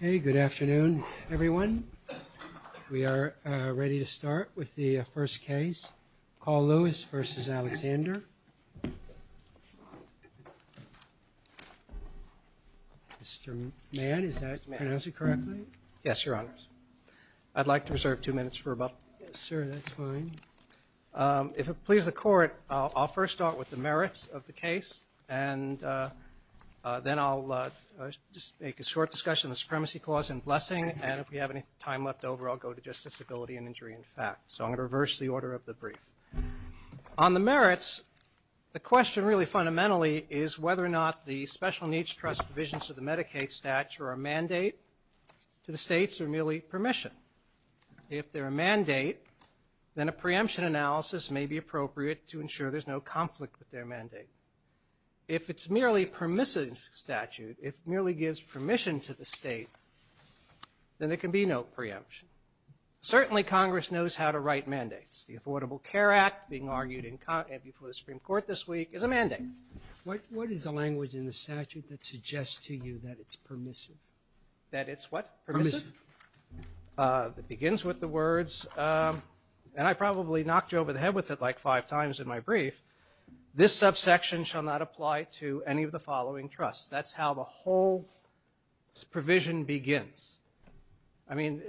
Hey, good afternoon everyone We are ready to start with the first case call Lewis versus Alexander Mr.. Man is that man else you correctly yes your honors. I'd like to reserve two minutes for about sir. That's fine if it pleases the court, I'll first start with the merits of the case and Then I'll Just make a short discussion the supremacy clause and blessing and if we have any time left over I'll go to just disability and injury in fact, so I'm going to reverse the order of the brief on the merits The question really fundamentally is whether or not the special needs trust divisions of the Medicaid statute or a mandate To the states are merely permission If they're a mandate then a preemption analysis may be appropriate to ensure there's no conflict with their mandate If it's merely permissive statute if merely gives permission to the state Then there can be no preemption Certainly Congress knows how to write mandates the Affordable Care Act being argued in content before the Supreme Court this week is a mandate What what is the language in the statute that suggests to you that it's permissive that it's what? That begins with the words And I probably knocked you over the head with it like five times in my brief This subsection shall not apply to any of the following trusts, that's how the whole provision begins I mean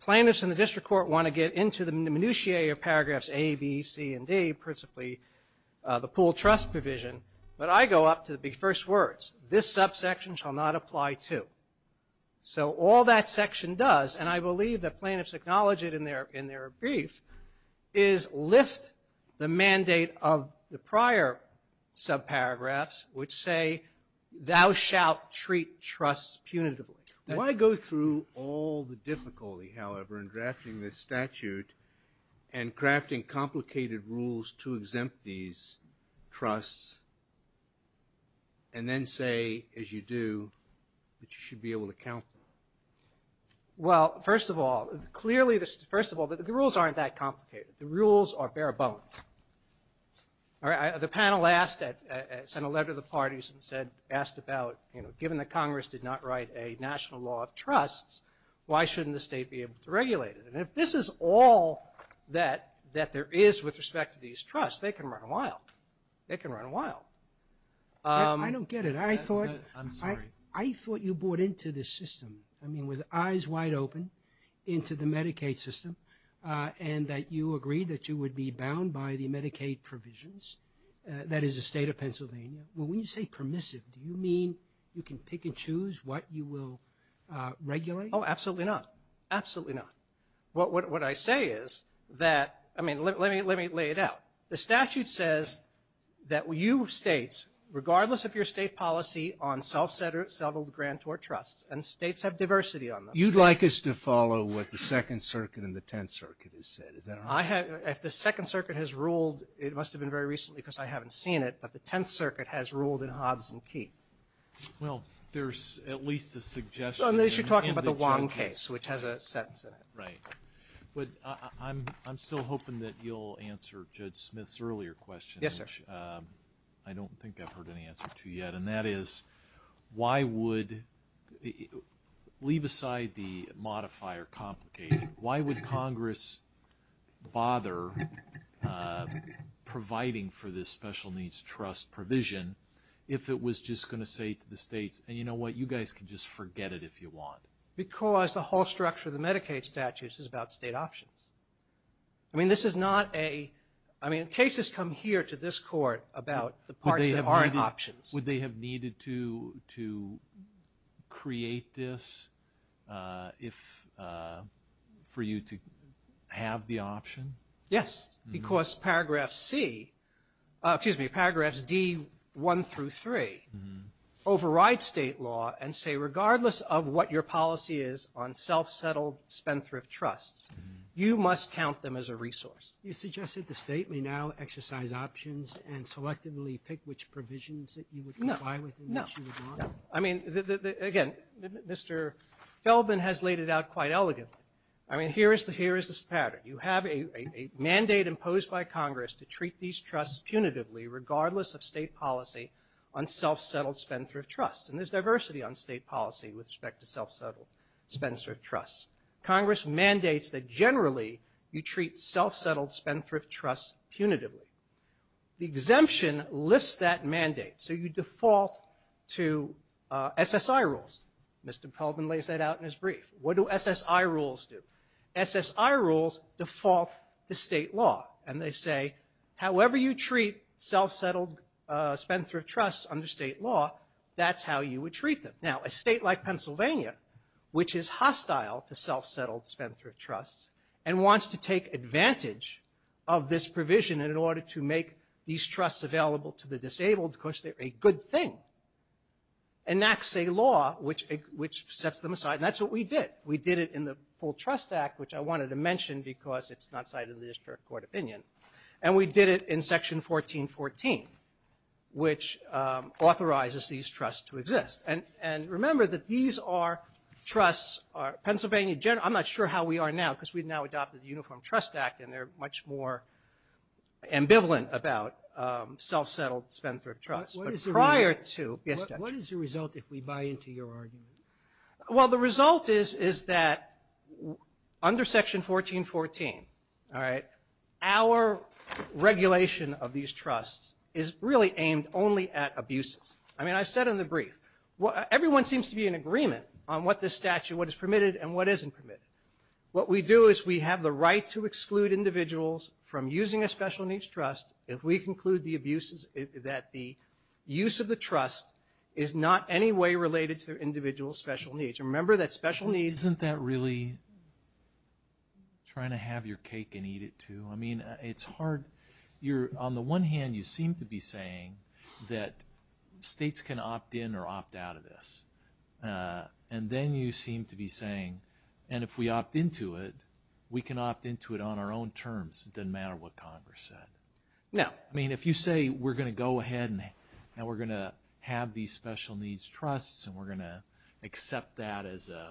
plaintiffs in the district court want to get into the minutiae of paragraphs a B C and D principally The pool trust provision, but I go up to the first words this subsection shall not apply to so all that section does and I believe that plaintiffs acknowledge it in their in their brief is Lift the mandate of the prior subparagraphs which say Thou shalt treat trusts punitively now. I go through all the difficulty however in drafting this statute and crafting complicated rules to exempt these trusts and Then say as you do That you should be able to count Well, first of all clearly this first of all that the rules aren't that complicated the rules are bare-bones All right The panel asked that sent a letter the parties and said asked about you know Given the Congress did not write a national law of trusts Why shouldn't the state be able to regulate it and if this is all that that there is with respect to these trusts? They can run a while they can run a while I don't get it. I thought I'm sorry. I thought you bought into this system I mean with eyes wide open Into the Medicaid system and that you agreed that you would be bound by the Medicaid provisions That is a state of Pennsylvania. Well, when you say permissive, do you mean you can pick and choose what you will? Regulate. Oh, absolutely not. Absolutely not What what I say is that I mean, let me let me lay it out the statute says That we you states regardless of your state policy on self-centered settled grant or trusts and states have diversity on them You'd like us to follow what the Second Circuit in the Tenth Circuit is said Is that I have if the Second Circuit has ruled it must have been very recently because I haven't seen it But the Tenth Circuit has ruled in Hobbs and Keith Well, there's at least a suggestion on this you're talking about the one case which has a sentence in it, right? But I'm I'm still hoping that you'll answer Judge Smith's earlier question Yes, sir. I don't think I've heard any answer to yet and that is Why would? Leave aside the modifier complicated. Why would Congress bother? Providing for this special needs trust provision if it was just going to say to the states and you know what you guys can just Forget it if you want because the whole structure of the Medicaid statutes is about state options. I Mean, this is not a I mean cases come here to this court about the parts of our options would they have needed to to create this if For you to have the option. Yes, because paragraph C Excuse me paragraphs D 1 through 3 Override state law and say regardless of what your policy is on self-settled spendthrift trusts You must count them as a resource You suggested the state may now exercise options and selectively pick which provisions that you would know I would know I mean again, mr. Feldman has laid it out quite elegantly I mean here is the here is this pattern you have a a mandate imposed by Congress to treat these trusts punitively Unself-settled spendthrift trusts and there's diversity on state policy with respect to self-settled Spencer trust Congress mandates that generally you treat self-settled spendthrift trusts punitively The exemption lists that mandate so you default to SSI rules, mr. Feldman lays that out in his brief. What do SSI rules do? SSI rules default to state law and they say however you treat Self-settled spendthrift trusts under state law. That's how you would treat them now a state like, Pennsylvania which is hostile to self-settled spendthrift trusts and wants to take advantage of This provision in order to make these trusts available to the disabled. Of course, they're a good thing Enacts a law which which sets them aside and that's what we did We did it in the full trust act Which I wanted to mention because it's not cited in the district court opinion and we did it in section 14 14 which authorizes these trusts to exist and and remember that these are Trusts are Pennsylvania. General. I'm not sure how we are now because we've now adopted the Uniform Trust Act and they're much more ambivalent about Self-settled spendthrift trust prior to what is the result if we buy into your argument? Well, the result is is that Under section 14 14. All right our Regulation of these trusts is really aimed only at abuses I mean I've said in the brief what everyone seems to be in agreement on what this statute what is permitted and what isn't permitted what we do is we have the right to exclude individuals from using a special needs trust if we conclude the abuses that the Use of the trust is not any way related to their individual special needs Remember that special needs isn't that really? Trying to have your cake and eat it too. I mean, it's hard you're on the one hand you seem to be saying that States can opt in or opt out of this And then you seem to be saying and if we opt into it, we can opt into it on our own terms It doesn't matter what Congress said Yeah I mean if you say we're gonna go ahead and now we're gonna have these special needs trusts and we're gonna Accept that as a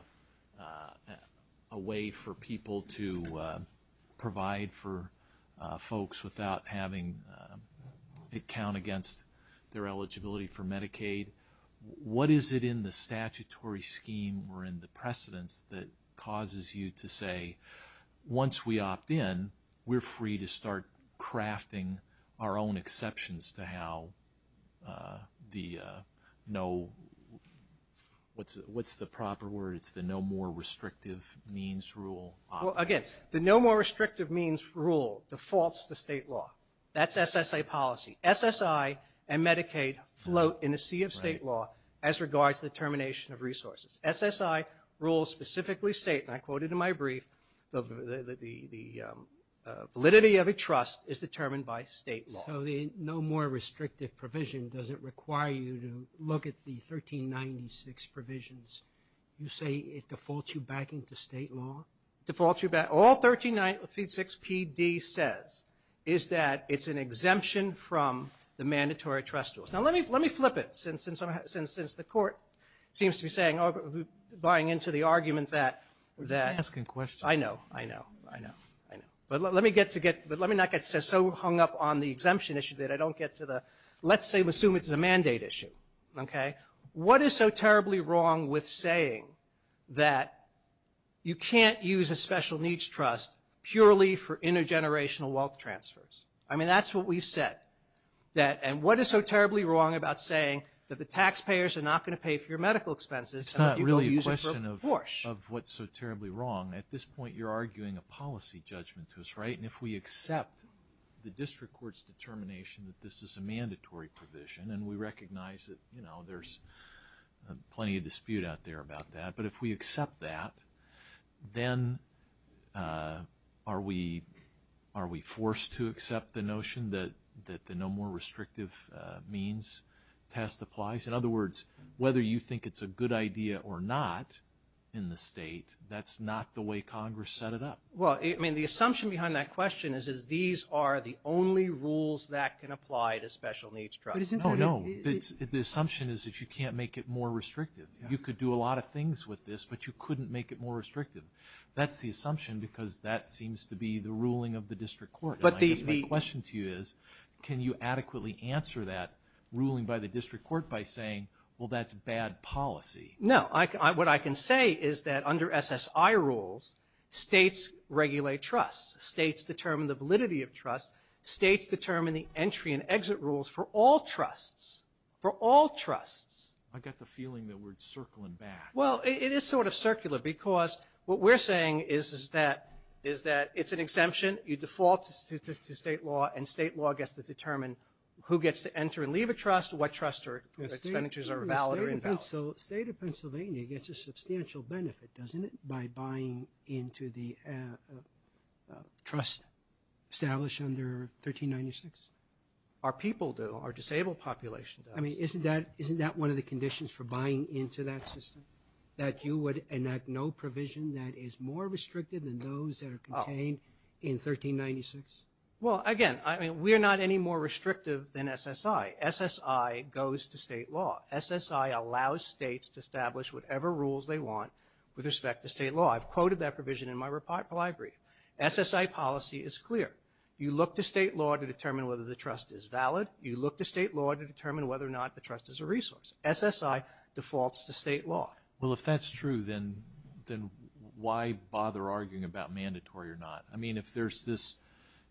Way for people to provide for folks without having It count against their eligibility for Medicaid What is it in the statutory scheme or in the precedence that causes you to say? Once we opt in we're free to start crafting our own exceptions to how the no What's the proper word it's the no more restrictive means rule Against the no more restrictive means rule defaults to state law. That's SSA policy SSI and Medicaid float in a sea of state law as regards the termination of resources SSI rules specifically state and I quoted in my brief the Validity of a trust is determined by state so the no more restrictive provision doesn't require you to look at the 1396 provisions you say it defaults you back into state law defaults you back all 1396 PD says is that it's an exemption from the mandatory trust rules now Let me let me flip it since since I'm since since the court seems to be saying over Buying into the argument that that asking questions. I know I know I know I know but let me get to get but let me not Get so hung up on the exemption issue that I don't get to the let's say assume. It's a mandate issue Okay, what is so terribly wrong with saying that? You can't use a special needs trust purely for intergenerational wealth transfers. I mean, that's what we've said That and what is so terribly wrong about saying that the taxpayers are not going to pay for your medical expenses It's not really a question of what's so terribly wrong at this point If we accept the district courts determination that this is a mandatory provision and we recognize it, you know, there's Plenty of dispute out there about that. But if we accept that then Are we are we forced to accept the notion that that the no more restrictive means Test applies in other words, whether you think it's a good idea or not in the state. That's not the way Congress set it up Well, I mean the assumption behind that question is is these are the only rules that can apply to special needs trust No, no, it's the assumption is that you can't make it more restrictive You could do a lot of things with this, but you couldn't make it more restrictive That's the assumption because that seems to be the ruling of the district court But the question to you is can you adequately answer that ruling by the district court by saying well, that's bad policy No, I what I can say is that under SSI rules States regulate trusts states determine the validity of trust states determine the entry and exit rules for all trusts For all trusts. I got the feeling that we're circling back Well, it is sort of circular because what we're saying is is that is that it's an exemption you default to state law and state Law gets to determine who gets to enter and leave a trust what trustor expenditures are valid or invalid So state of Pennsylvania gets a substantial benefit doesn't it by buying into the Trust Established under 1396 our people do our disabled population I mean, isn't that isn't that one of the conditions for buying into that system that you would enact? No provision that is more restrictive than those that are contained in 1396 well again, I mean we are not any more restrictive than SSI SSI goes to state law SSI allows states to establish whatever rules they want with respect to state law. I've quoted that provision in my report library SSI policy is clear. You look to state law to determine whether the trust is valid You look to state law to determine whether or not the trust is a resource SSI defaults to state law Well, if that's true, then then why bother arguing about mandatory or not? I mean if there's this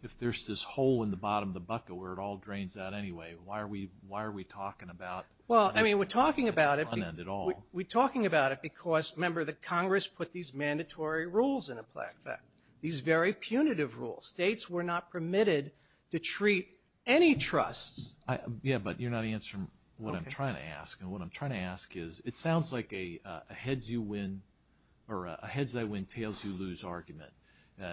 if there's this hole in the bottom of the bucket where it all drains out Anyway, why are we why are we talking about? Well, I mean we're talking about it at all We're talking about it because remember that Congress put these mandatory rules in a plaque that these very punitive rules states We're not permitted to treat any trust Yeah, but you're not answering what I'm trying to ask and what I'm trying to ask is it sounds like a heads you win Or a heads I win tails you lose argument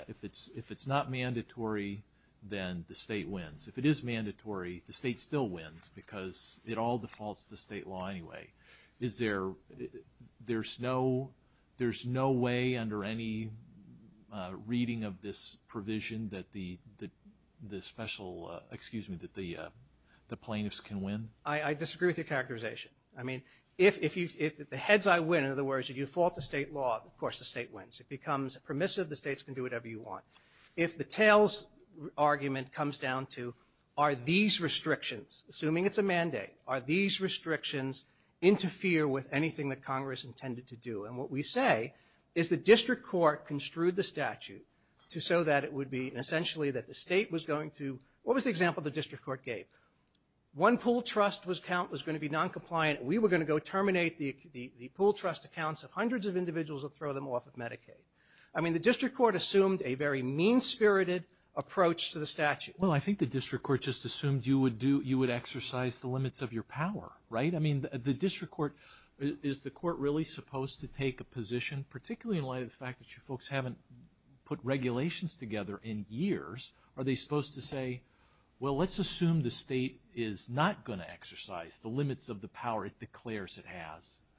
if it's if it's not mandatory Then the state wins if it is mandatory the state still wins because it all defaults to state law Anyway, is there? There's no there's no way under any reading of this provision that the the special excuse me that the Plaintiffs can win. I I disagree with your characterization I mean if if you if the heads I win in other words if you fault the state law Of course the state wins it becomes permissive the states can do whatever you want if the tails Argument comes down to are these restrictions assuming it's a mandate are these restrictions? Interfere with anything that Congress intended to do and what we say is the district court construed the statute To so that it would be essentially that the state was going to what was the example the district court gave? One pool trust was count was going to be non-compliant We were going to go terminate the the pool trust accounts of hundreds of individuals that throw them off of Medicaid I mean the district court assumed a very mean-spirited Approach to the statute. Well, I think the district court just assumed you would do you would exercise the limits of your power, right? I mean the district court is the court really supposed to take a position particularly in light of the fact that you folks haven't Put regulations together in years. Are they supposed to say? Well, let's assume the state is not going to exercise the limits of the power it declares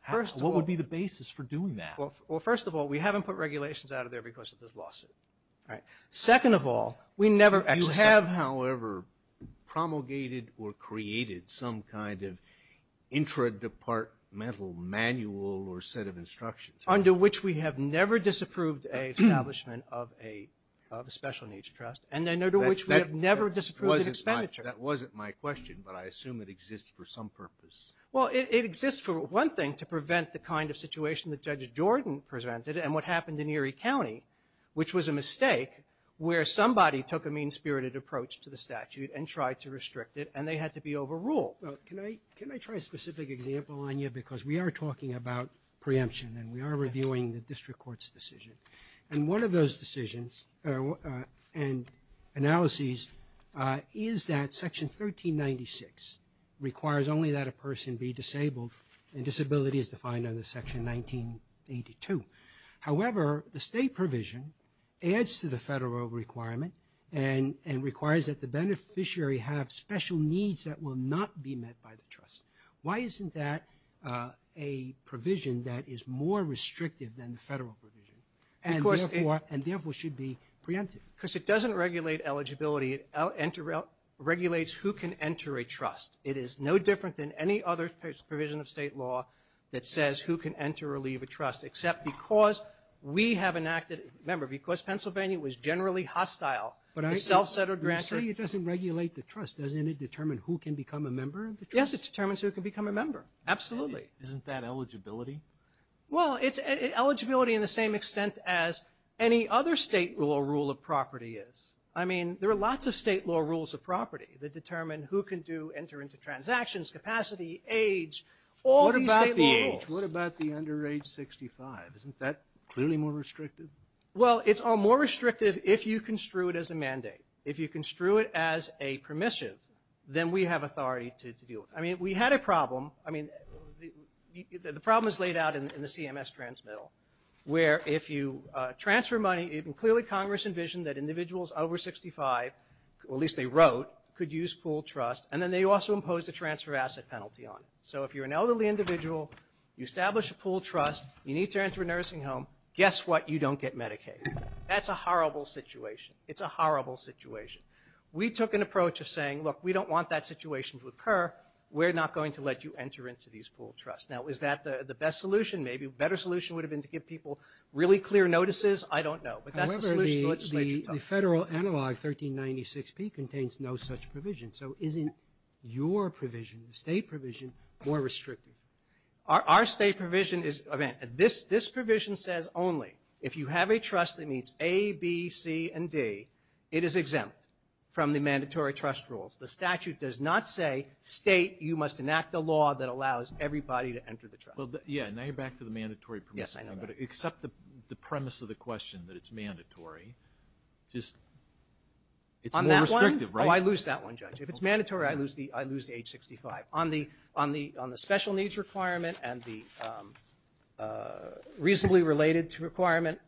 First what would be the basis for doing that? Well, first of all, we haven't put regulations out of there because of this lawsuit. All right, second of all, we never actually have however promulgated or created some kind of intradepartmental manual or set of instructions under which we have never disapproved a establishment of a Special needs trust and then there to which we have never disapproved expenditure That wasn't my question, but I assume it exists for some purpose Well, it exists for one thing to prevent the kind of situation that judge Jordan presented and what happened in Erie County Which was a mistake where somebody took a mean-spirited approach to the statute and tried to restrict it and they had to be overruled Well, can I can I try a specific example on you because we are talking about Preemption and we are reviewing the district court's decision and one of those decisions and analyses Is that section 1396? Requires only that a person be disabled and disability is defined on the section 1982. However, the state provision adds to the federal requirement and and requires that the Beneficiary have special needs that will not be met by the trust. Why isn't that a provision that is more restrictive than the federal provision and And therefore should be preemptive because it doesn't regulate eligibility it Regulates who can enter a trust it is no different than any other provision of state law that says who can enter or leave a trust except because We have enacted member because Pennsylvania was generally hostile But I self-centered rancher you doesn't regulate the trust doesn't it determine who can become a member? Yes, it determines who can become a member. Absolutely. Isn't that eligibility? Well, it's eligibility in the same extent as any other state rule or rule of property is I mean, there are lots of state law rules of property that determine who can do enter into transactions capacity age What about the age? What about the under age 65? Isn't that clearly more restrictive? Well, it's all more restrictive if you construe it as a mandate if you construe it as a permissive Then we have authority to do it. I mean we had a problem. I mean The problem is laid out in the CMS transmittal where if you Transfer money even clearly Congress envisioned that individuals over 65 Well, at least they wrote could use pooled trust and then they also imposed a transfer asset penalty on it So if you're an elderly individual you establish a pooled trust you need to enter a nursing home. Guess what you don't get Medicaid That's a horrible situation. It's a horrible situation We took an approach of saying look we don't want that situation to occur We're not going to let you enter into these pooled trust now Is that the the best solution maybe better solution would have been to give people really clear notices? I don't know, but that's a solution federal analog 1396 P contains no such provision. So isn't your provision the state provision more restrictive? Our state provision is event this this provision says only if you have a trust that meets a B C and D It is exempt from the mandatory trust rules The statute does not say state you must enact a law that allows everybody to enter the trust Yeah, now you're back to the mandatory. Yes, I know except the premise of the question that it's mandatory just It's on that one. I lose that one judge if it's mandatory I lose the I lose the age 65 on the on the on the special needs requirement and the Reasonably related to requirement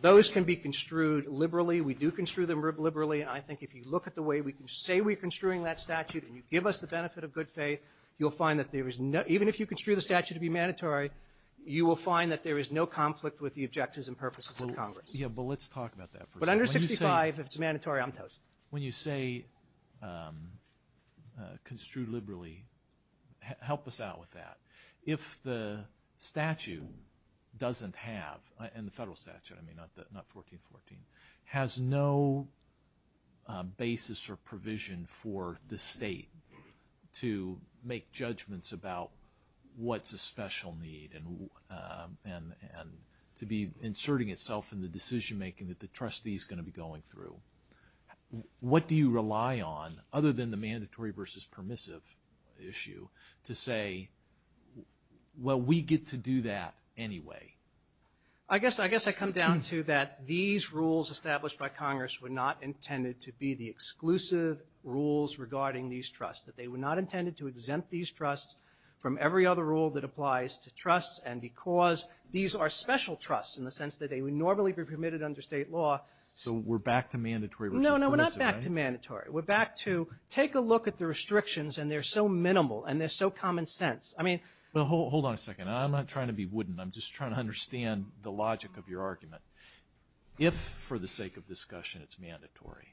Those can be construed liberally. We do construe them rib liberally I think if you look at the way we can say we're construing that statute and you give us the benefit of good faith You'll find that there is no even if you construe the statute to be mandatory You will find that there is no conflict with the objectives and purposes of Congress. Yeah, but let's talk about that But under 65 if it's mandatory, I'm toast when you say Construed liberally help us out with that if the Statue doesn't have and the federal statute. I mean not that not 1414 has no Basis or provision for the state to make judgments about what's a special need and And and to be inserting itself in the decision-making that the trustee is going to be going through what do you rely on other than the mandatory versus permissive issue to say Well, we get to do that. Anyway, I Exclusive rules regarding these trusts that they were not intended to exempt these trusts from every other rule that applies to trusts and because These are special trusts in the sense that they would normally be permitted under state law. So we're back to mandatory. No No, we're not back to mandatory. We're back to take a look at the restrictions and they're so minimal and they're so common-sense I mean, well, hold on a second. I'm not trying to be wooden. I'm just trying to understand the logic of your argument If for the sake of discussion It's mandatory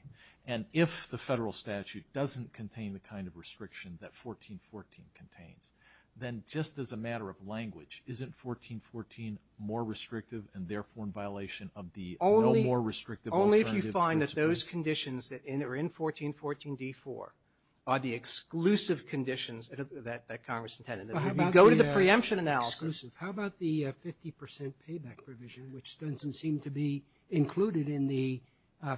and if the federal statute doesn't contain the kind of restriction that 1414 contains Then just as a matter of language isn't 1414 more restrictive and therefore in violation of the only more restrictive only if you find that those conditions that in or in 1414 d4 are the Exclusive conditions that Congress intended go to the preemption analysis. How about the 50% payback provision? Which doesn't seem to be included in the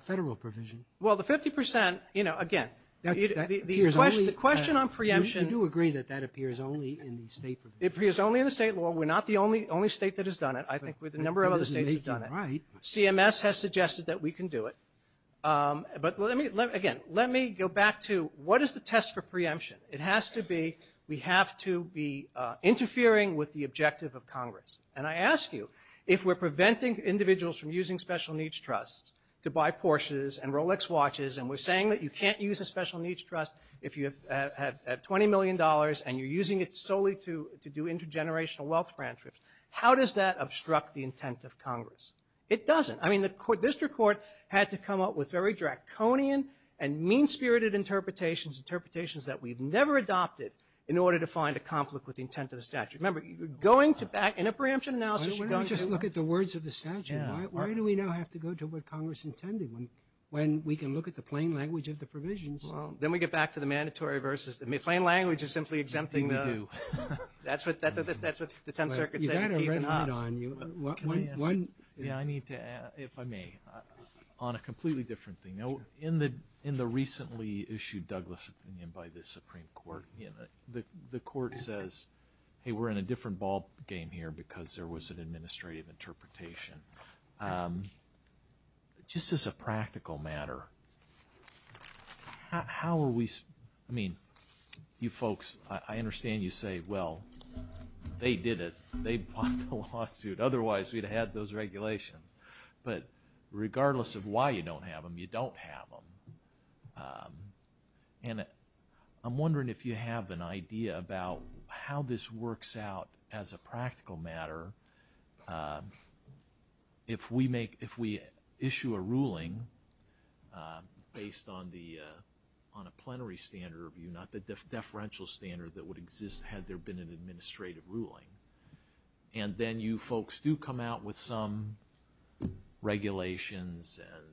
federal provision? Well the 50% you know again, the question the question on preemption do agree that that appears only in the state It appears only in the state law. We're not the only only state that has done it I think with a number of other states have done it right CMS has suggested that we can do it But let me let again. Let me go back to what is the test for preemption? It has to be we have to be Preventing individuals from using special-needs trusts to buy Porsches and Rolex watches And we're saying that you can't use a special-needs trust if you have 20 million dollars and you're using it solely to to do intergenerational wealth grant trips How does that obstruct the intent of Congress? It doesn't I mean the court district court had to come up with very draconian and mean-spirited Interpretations interpretations that we've never adopted in order to find a conflict with the intent of the statute remember you're going to back in a preemption Just look at the words of the statute Why do we now have to go to what Congress intended when when we can look at the plain language of the provisions? Well, then we get back to the mandatory versus the main plain language is simply exempting though That's what that's what the 10th Circuit Yeah, I need to if I may On a completely different thing now in the in the recently issued Douglas opinion by this Supreme Court The the court says hey, we're in a different ballgame here because there was an administrative interpretation Just as a practical matter How are we I mean you folks I understand you say well They did it. They bought the lawsuit. Otherwise, we'd have had those regulations, but Regardless of why you don't have them. You don't have them And I'm wondering if you have an idea about how this works out as a practical matter If we make if we issue a ruling based on the on a plenary standard review not the deferential standard that would exist had there been an administrative ruling and Then you folks do come out with some Regulations and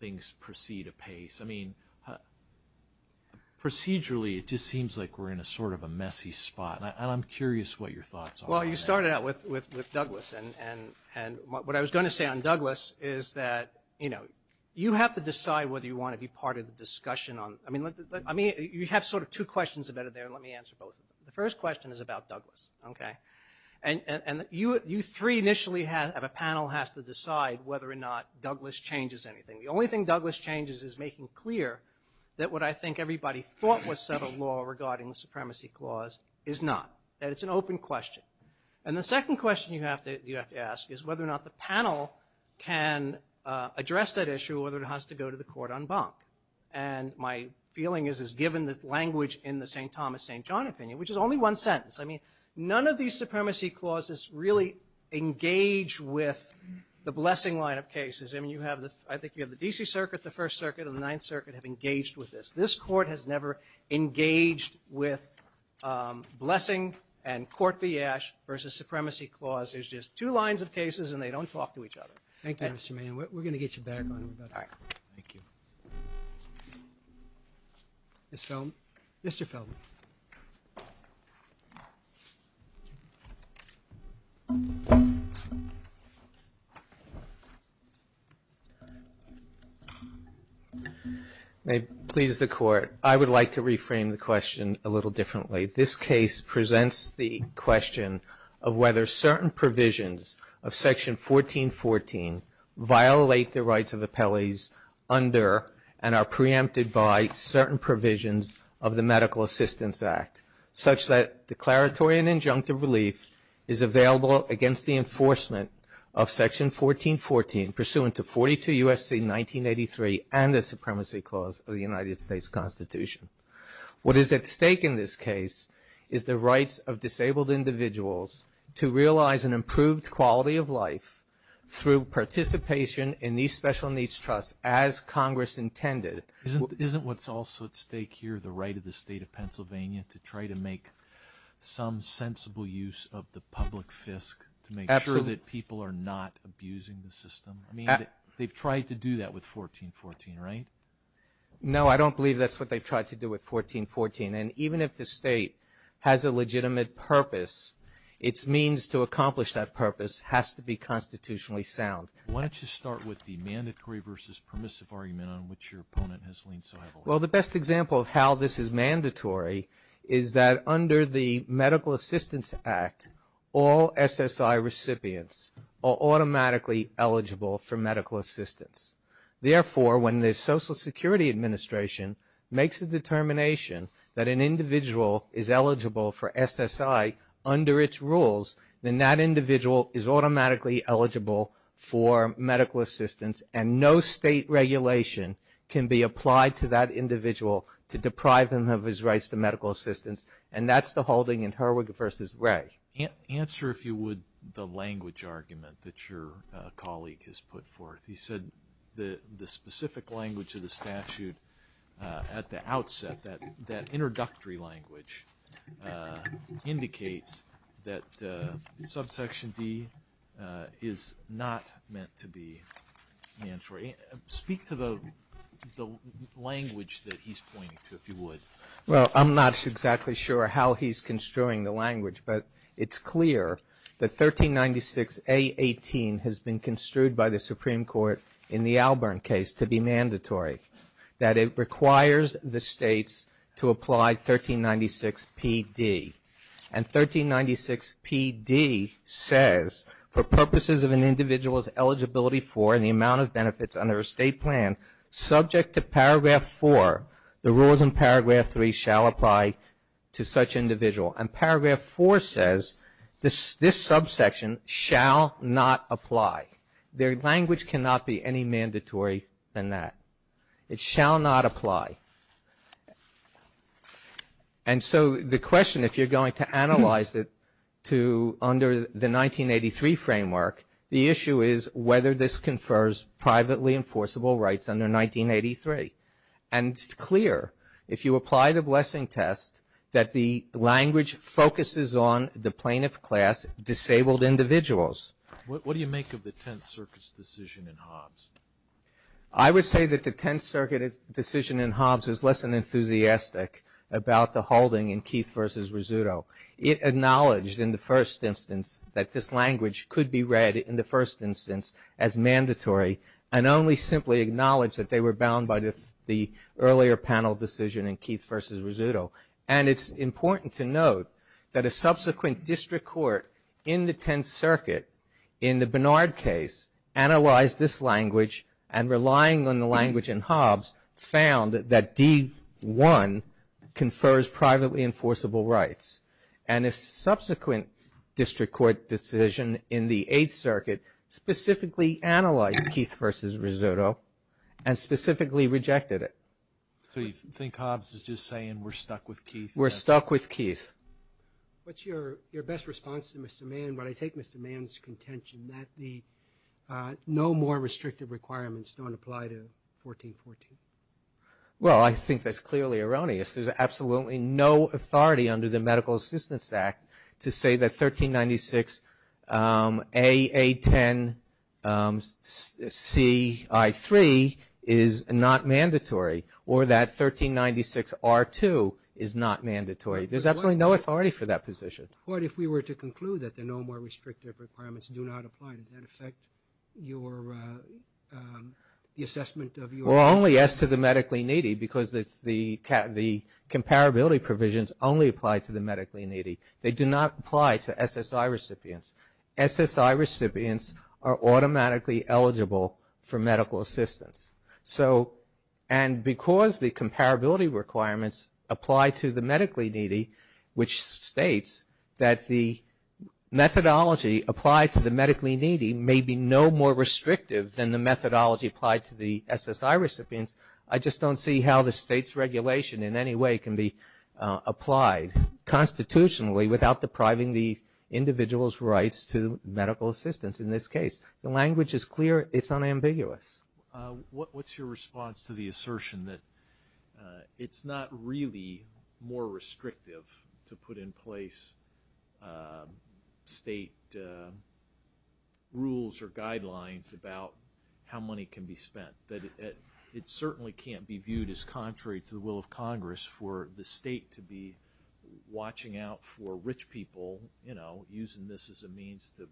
things proceed apace. I mean Procedurally it just seems like we're in a sort of a messy spot and I'm curious what your thoughts Well, you started out with with Douglas and and and what I was going to say on Douglas is that you know You have to decide whether you want to be part of the discussion on I mean Let me you have sort of two questions about it there and let me answer both The first question is about Douglas Okay, and and you you three initially have a panel has to decide whether or not Douglas changes anything The only thing Douglas changes is making clear that what I think everybody thought was set a law regarding the supremacy clause is not That it's an open question. And the second question you have to you have to ask is whether or not the panel can address that issue whether it has to go to the court on bunk and My feeling is is given the language in the st. Thomas st. John opinion, which is only one sentence I mean none of these supremacy clauses really Engage with the blessing line of cases I mean you have this I think you have the DC Circuit the First Circuit of the Ninth Circuit have engaged with this this court has never engaged with Blessing and court v. Ash versus supremacy clause. There's just two lines of cases and they don't talk to each other Thank you. Mr. Mann. We're gonna get you back on Thank you This film mr. Feldman I Would like to reframe the question a little differently this case presents the question of whether certain provisions of section 1414 violate the rights of the Pele's under and are preempted by Certain provisions of the Medical Assistance Act such that declaratory and injunctive relief is available against the enforcement of section 1414 pursuant to 42 USC 1983 and the supremacy clause of the United States Constitution What is at stake in this case is the rights of disabled individuals to realize an improved quality of life? Through participation in these special needs trusts as Congress intended Isn't what's also at stake here the right of the state of Pennsylvania to try to make? Some sensible use of the public fisc to make sure that people are not abusing the system I mean they've tried to do that with 1414, right? No, I don't believe that's what they've tried to do with 1414 And even if the state has a legitimate purpose its means to accomplish that purpose has to be constitutionally sound Why don't you start with the mandatory versus permissive argument on which your opponent has leaned? So well, the best example of how this is mandatory is that under the Medical Assistance Act all? SSI recipients are automatically eligible for medical assistance Therefore when the Social Security Administration Makes a determination that an individual is eligible for SSI under its rules Then that individual is automatically eligible for medical assistance and no state Regulation can be applied to that individual to deprive him of his rights to medical assistance And that's the holding in her wig versus gray Answer if you would the language argument that your colleague has put forth He said the the specific language of the statute At the outset that that introductory language Indicates that subsection D is not meant to be mandatory speak to the Language that he's pointing to if you would well I'm not exactly sure how he's construing the language, but it's clear that 1396 a 18 has been construed by the Supreme Court in the Albern case to be mandatory That it requires the states to apply 1396 PD and 1396 PD Says for purposes of an individual's eligibility for and the amount of benefits under a state plan Subject to paragraph 4 the rules in paragraph 3 shall apply to such individual and paragraph 4 says This this subsection shall not apply their language cannot be any mandatory than that it shall not apply and So the question if you're going to analyze it to under the 1983 framework the issue is whether this confers privately enforceable rights under 1983 and It's clear if you apply the blessing test that the language focuses on the plaintiff class Disabled individuals. What do you make of the Tenth Circuit's decision in Hobbs? I would say that the Tenth Circuit is decision in Hobbs is less than Enthusiastic about the holding in Keith versus Rizzuto it acknowledged in the first instance that this language could be read in the first instance as Keith versus Rizzuto and it's important to note that a subsequent district court in the Tenth Circuit in the Barnard case Analyzed this language and relying on the language in Hobbs found that D 1 confers privately enforceable rights and a subsequent district court decision in the 8th Circuit specifically analyzed Keith versus Rizzuto and Specifically rejected it. So you think Hobbs is just saying we're stuck with Keith. We're stuck with Keith What's your your best response to mr. Mann, but I take mr. Mann's contention that the No more restrictive requirements don't apply to 1414 Well, I think that's clearly erroneous. There's absolutely no authority under the Medical Assistance Act to say that 1396 A10 C I 3 is not mandatory or that 1396 r2 is not mandatory. There's absolutely no authority for that position What if we were to conclude that there no more restrictive requirements do not apply? Does that affect your? The assessment of your only asked to the medically needy because that's the cat the Comparability provisions only apply to the medically needy. They do not apply to SSI recipients SSI recipients are automatically eligible for medical assistance so and because the comparability requirements apply to the medically needy which states that the Methodology applied to the medically needy may be no more restrictive than the methodology applied to the SSI recipients I just don't see how the state's regulation in any way can be applied Constitutionally without depriving the Individuals rights to medical assistance in this case. The language is clear. It's unambiguous What what's your response to the assertion that? It's not really more restrictive to put in place State Rules or guidelines about how money can be spent that it it certainly can't be viewed as contrary to the will of Congress for the state to be Watching out for rich people, you know using this as a means to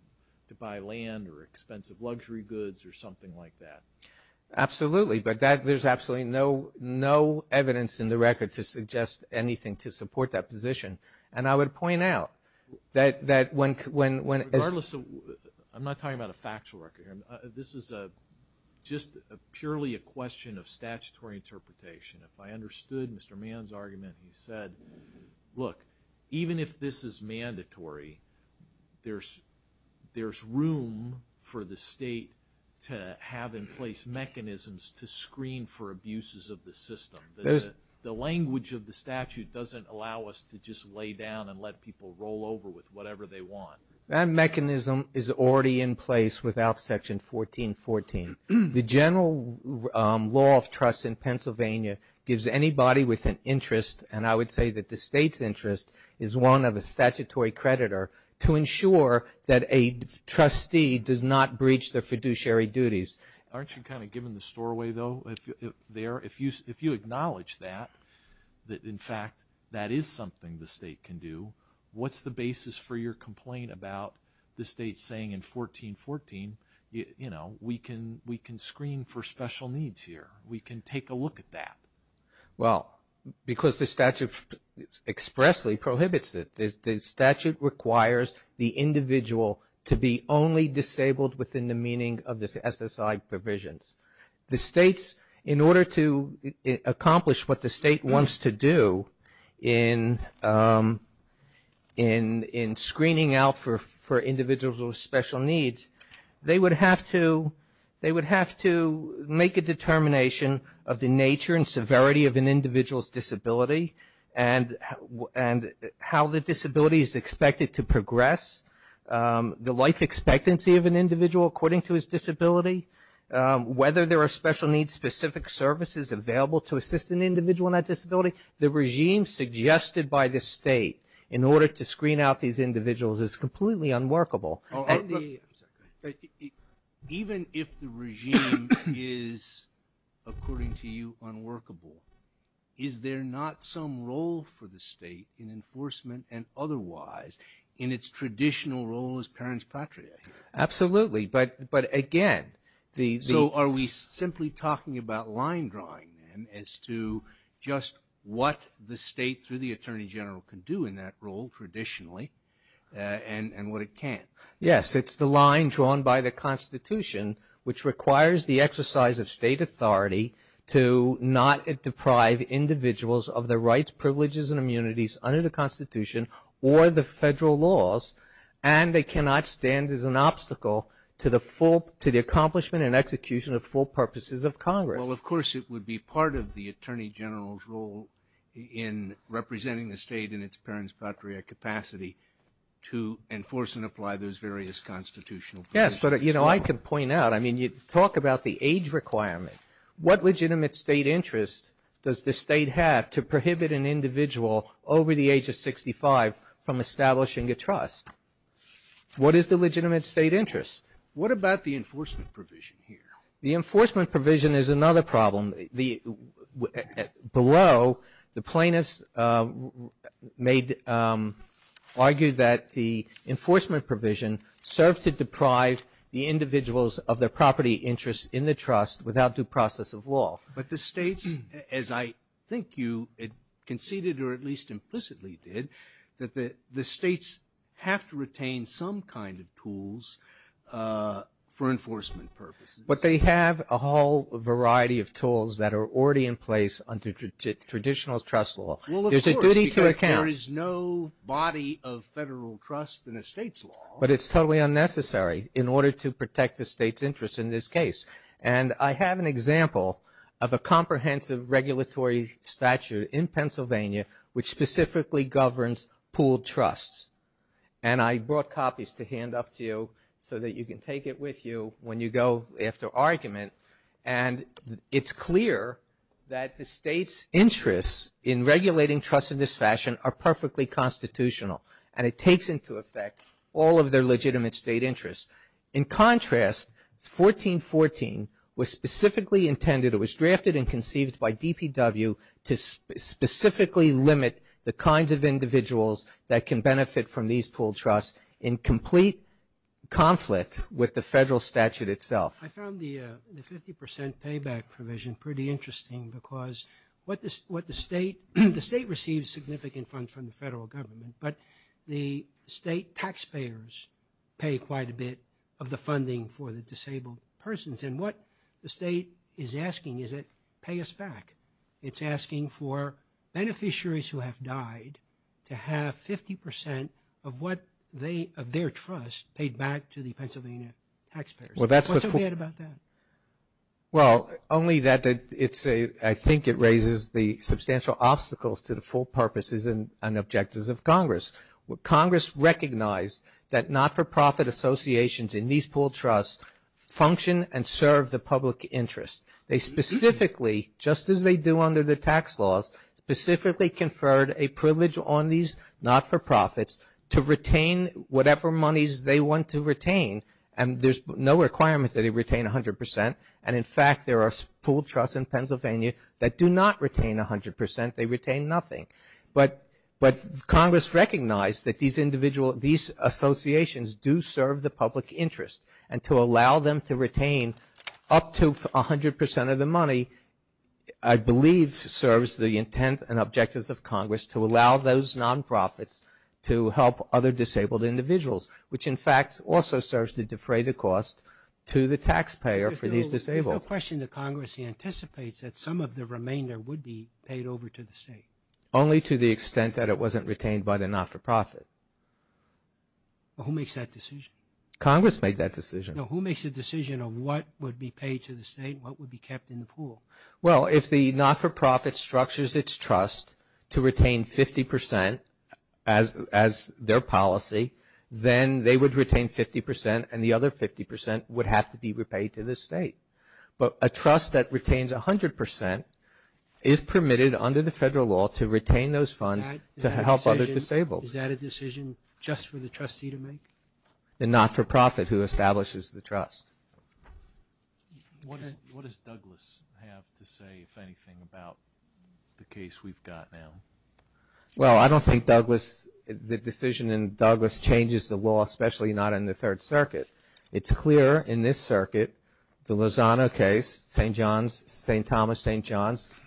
buy land or expensive luxury goods or something like that Absolutely, but that there's absolutely no No evidence in the record to suggest anything to support that position and I would point out that that when when when? I'm not talking about a factual record. This is a Just a purely a question of statutory interpretation if I understood. Mr. Mann's argument. He said Look even if this is mandatory there's There's room for the state to have in place mechanisms to screen for abuses of the system There's the language of the statute doesn't allow us to just lay down and let people roll over with whatever they want That mechanism is already in place without section 1414 the general Law of trust in Pennsylvania gives anybody with an interest and I would say that the state's interest is one of a statutory creditor to ensure that a Trustee does not breach their fiduciary duties. Aren't you kind of giving the store away though? There if you if you acknowledge that That in fact that is something the state can do What's the basis for your complaint about the state saying in 1414? You know, we can we can screen for special needs here we can take a look at that well because the statute expressly prohibits that the statute requires the Individual to be only disabled within the meaning of this SSI provisions the state's in order to Accomplish what the state wants to do in in Screening out for for individuals with special needs they would have to they would have to make a determination of the nature and severity of an individual's disability and And how the disability is expected to progress? the life expectancy of an individual according to his disability Whether there are special needs specific services available to assist an individual in that disability the regime Suggested by the state in order to screen out these individuals is completely unworkable Even if the regime is According to you unworkable Is there not some role for the state in enforcement and otherwise in its traditional role as parents patria? Absolutely, but but again the so are we simply talking about line drawing them as to? Just what the state through the Attorney General can do in that role traditionally And and what it can yes, it's the line drawn by the Constitution Which requires the exercise of state authority to not deprive? individuals of the rights privileges and immunities under the Constitution or the federal laws and They cannot stand as an obstacle to the full to the accomplishment and execution of full purposes of Congress Well, of course, it would be part of the Attorney General's role in Representing the state in its parents patria capacity to enforce and apply those various constitutional Yes, but you know I can point out. I mean you talk about the age requirement What legitimate state interest does the state have to prohibit an individual over the age of 65 from establishing a trust? What is the legitimate state interest? What about the enforcement provision here? The enforcement provision is another problem the below the plaintiffs made argued that the Enforcement provision served to deprive the individuals of their property interest in the trust without due process of law But the states as I think you it conceded or at least implicitly did that the the states Have to retain some kind of tools For enforcement purposes, but they have a whole variety of tools that are already in place under Traditional trust law. There's a duty to account is no body of federal trust in a state's law But it's totally unnecessary in order to protect the state's interest in this case And I have an example of a comprehensive regulatory statute in Pennsylvania Which specifically governs pooled trusts and I brought copies to hand up to you so that you can take it with you when you go after argument and It's clear that the state's interests in regulating trust in this fashion are perfectly Constitutional and it takes into effect all of their legitimate state interest in Contrast it's 1414 was specifically intended. It was drafted and conceived by DPW to Specifically limit the kinds of individuals that can benefit from these pooled trusts in complete conflict with the federal statute itself I found the 50% payback provision pretty interesting because what this what the state the state receives significant funds from the federal government But the state taxpayers pay quite a bit of the funding for the disabled persons And what the state is asking is it pay us back? It's asking for Beneficiaries who have died to have 50% of what they of their trust paid back to the Pennsylvania Well, that's what we had about that Well only that it's a I think it raises the substantial obstacles to the full purposes and an objectives of Congress What Congress recognized that not-for-profit associations in these pooled trusts? Function and serve the public interest they specifically just as they do under the tax laws Specifically conferred a privilege on these not-for-profits to retain whatever monies they want to retain and there's no Requirement that it retain a hundred percent and in fact, there are pooled trusts in Pennsylvania that do not retain a hundred percent They retain nothing but but Congress recognized that these individual these Associations do serve the public interest and to allow them to retain up to a hundred percent of the money. I Believe serves the intent and objectives of Congress to allow those nonprofits to help other disabled individuals Which in fact also serves to defray the cost to the taxpayer for these disabled question the Congress Anticipates that some of the remainder would be paid over to the state only to the extent that it wasn't retained by the not-for-profit Who makes that decision? Congress made that decision who makes a decision of what would be paid to the state what would be kept in the pool? well, if the not-for-profit structures its trust to retain 50% as As their policy then they would retain 50% and the other 50% would have to be repaid to the state But a trust that retains a hundred percent is permitted under the federal law to retain those funds to help other disabled Is that a decision just for the trustee to make the not-for-profit who establishes the trust? Well, I don't think Douglas the decision in Douglas changes the law especially not in the Third Circuit It's clear in this circuit the Lozano case st. John's st. Thomas st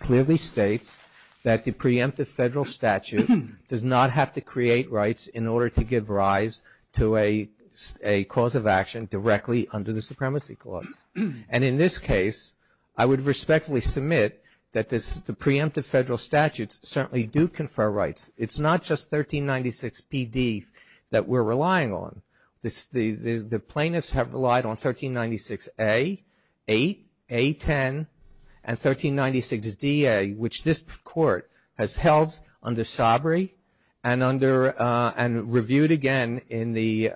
Clearly states that the preemptive federal statute does not have to create rights in order to give rise to a cause of action directly under the supremacy clause and in this case I would respectfully submit that this the preemptive federal statutes certainly do confer rights. It's not just 1396 PD that we're relying on this the the plaintiffs have relied on 1396 a a 10 and 1396 DA which this court has held under sobriety and under and reviewed again in the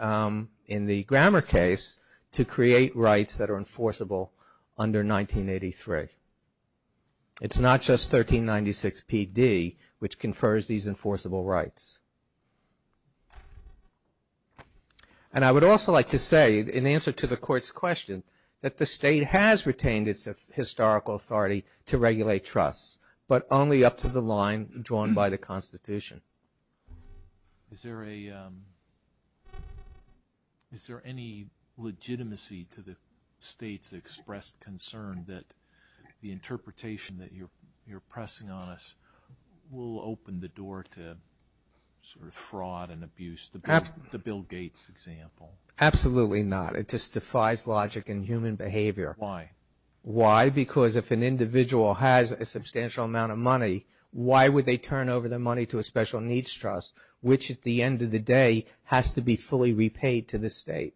In the grammar case to create rights that are enforceable under 1983 It's not just 1396 PD which confers these enforceable rights And I would also like to say in answer to the court's question that the state has retained its Historical authority to regulate trusts, but only up to the line drawn by the Constitution Is there a? Is there any legitimacy to the state's expressed concern that the interpretation that you're you're pressing on us will open the door to Fraud and abuse the Bill Gates example. Absolutely not. It just defies logic and human behavior Why why because if an individual has a substantial amount of money? Why would they turn over the money to a special needs trust which at the end of the day? Has to be fully repaid to the state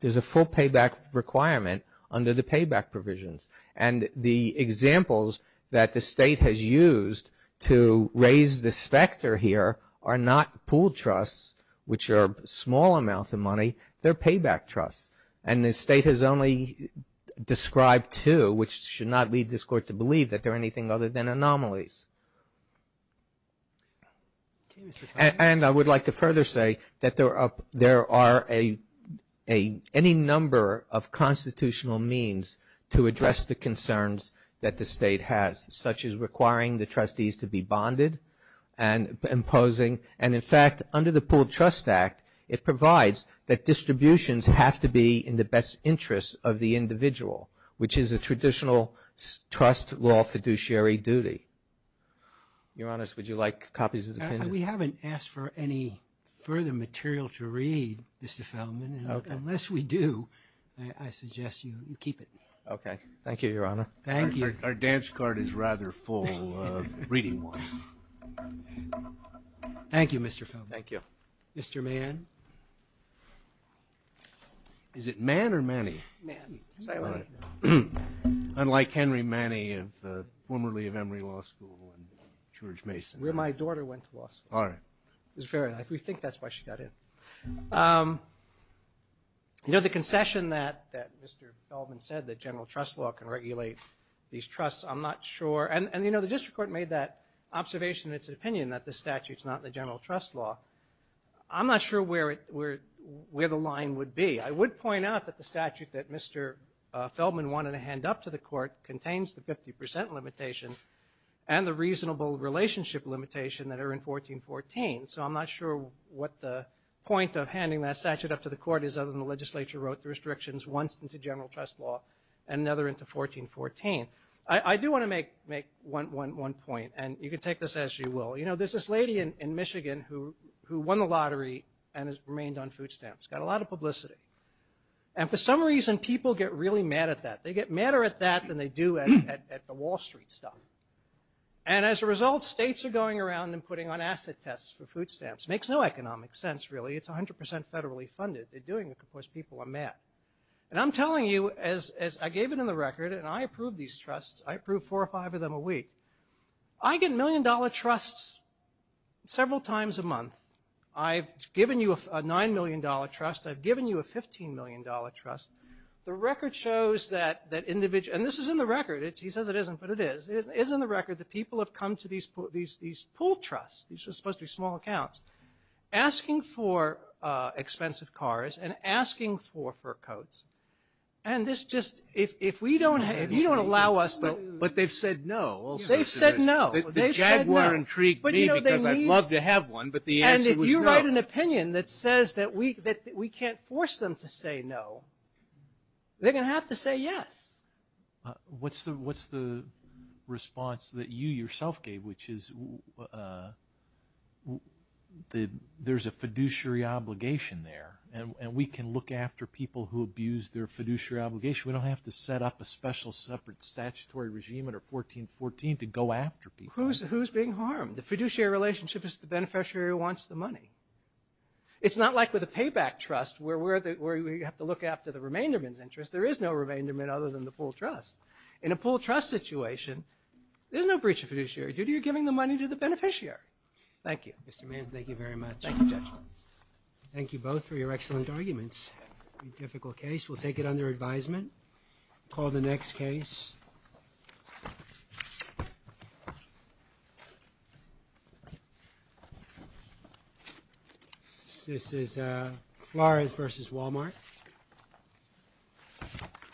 There's a full payback requirement under the payback provisions and the Examples that the state has used to raise the specter here are not pooled trusts Which are small amounts of money their payback trusts and the state has only Described to which should not lead this court to believe that there are anything other than anomalies And I would like to further say that they're up there are a a any number of Constitutional means to address the concerns that the state has such as requiring the trustees to be bonded and imposing and in fact under the pooled trust act It provides that distributions have to be in the best interest of the individual which is a traditional trust law fiduciary duty Your honest, would you like copies? We haven't asked for any further material to read Unless we do I Suggest you keep it. Okay. Thank you, Your Honor. Thank you. Our dance card is rather full reading Thank You, mr. Felt thank you, mr. Man Is it man or many Unlike Henry Manny of formerly of Emory Law School and George Mason where my daughter went to law school All right is very like we think that's why she got in You know the concession that that mr. Feldman said that general trust law can regulate these trusts I'm not sure and and you know, the district court made that observation. It's an opinion that the statutes not the general trust law I'm not sure where it we're where the line would be. I would point out that the statute that mr Feldman wanted to hand up to the court contains the 50% limitation and the reasonable relationship limitation that are in 1414 so I'm not sure what the Point of handing that statute up to the court is other than the legislature wrote the restrictions once into general trust law and another Into 1414. I I do want to make make one one one point and you can take this as you will You know, there's this lady in Michigan who who won the lottery and has remained on food stamps got a lot of publicity and for some reason people get really mad at that they get madder at that than they do at the Wall Street stuff and As a result states are going around and putting on asset tests for food stamps makes no economic sense. Really. It's 100% federally funded They're doing it because people are mad and I'm telling you as I gave it in the record and I approved these trusts I approve four or five of them a week. I Get million-dollar trusts Several times a month. I've given you a nine million dollar trust I've given you a 15 million dollar trust the record shows that that individual and this is in the record He says it isn't but it is isn't the record the people have come to these put these these pool trusts These are supposed to be small accounts asking for expensive cars and asking for fur coats and This just if we don't have you don't allow us though, but they've said no They've said no Intrigued but you know, they love to have one But the answer was you write an opinion that says that we that we can't force them to say no They're gonna have to say yes What's the what's the response that you yourself gave which is The there's a fiduciary obligation there and we can look after people who abuse their fiduciary obligation We don't have to set up a special separate statutory regime at or 1414 to go after people Who's who's being harmed the fiduciary relationship is the beneficiary who wants the money? It's not like with a payback trust where we're that where you have to look after the remainder men's interest There is no remainder men other than the pool trust in a pool trust situation There's no breach of fiduciary duty. You're giving the money to the beneficiary. Thank you. Mr. Mann. Thank you very much Thank you both for your excellent arguments Difficult case we'll take it under advisement Call the next case This is Flores versus Walmart I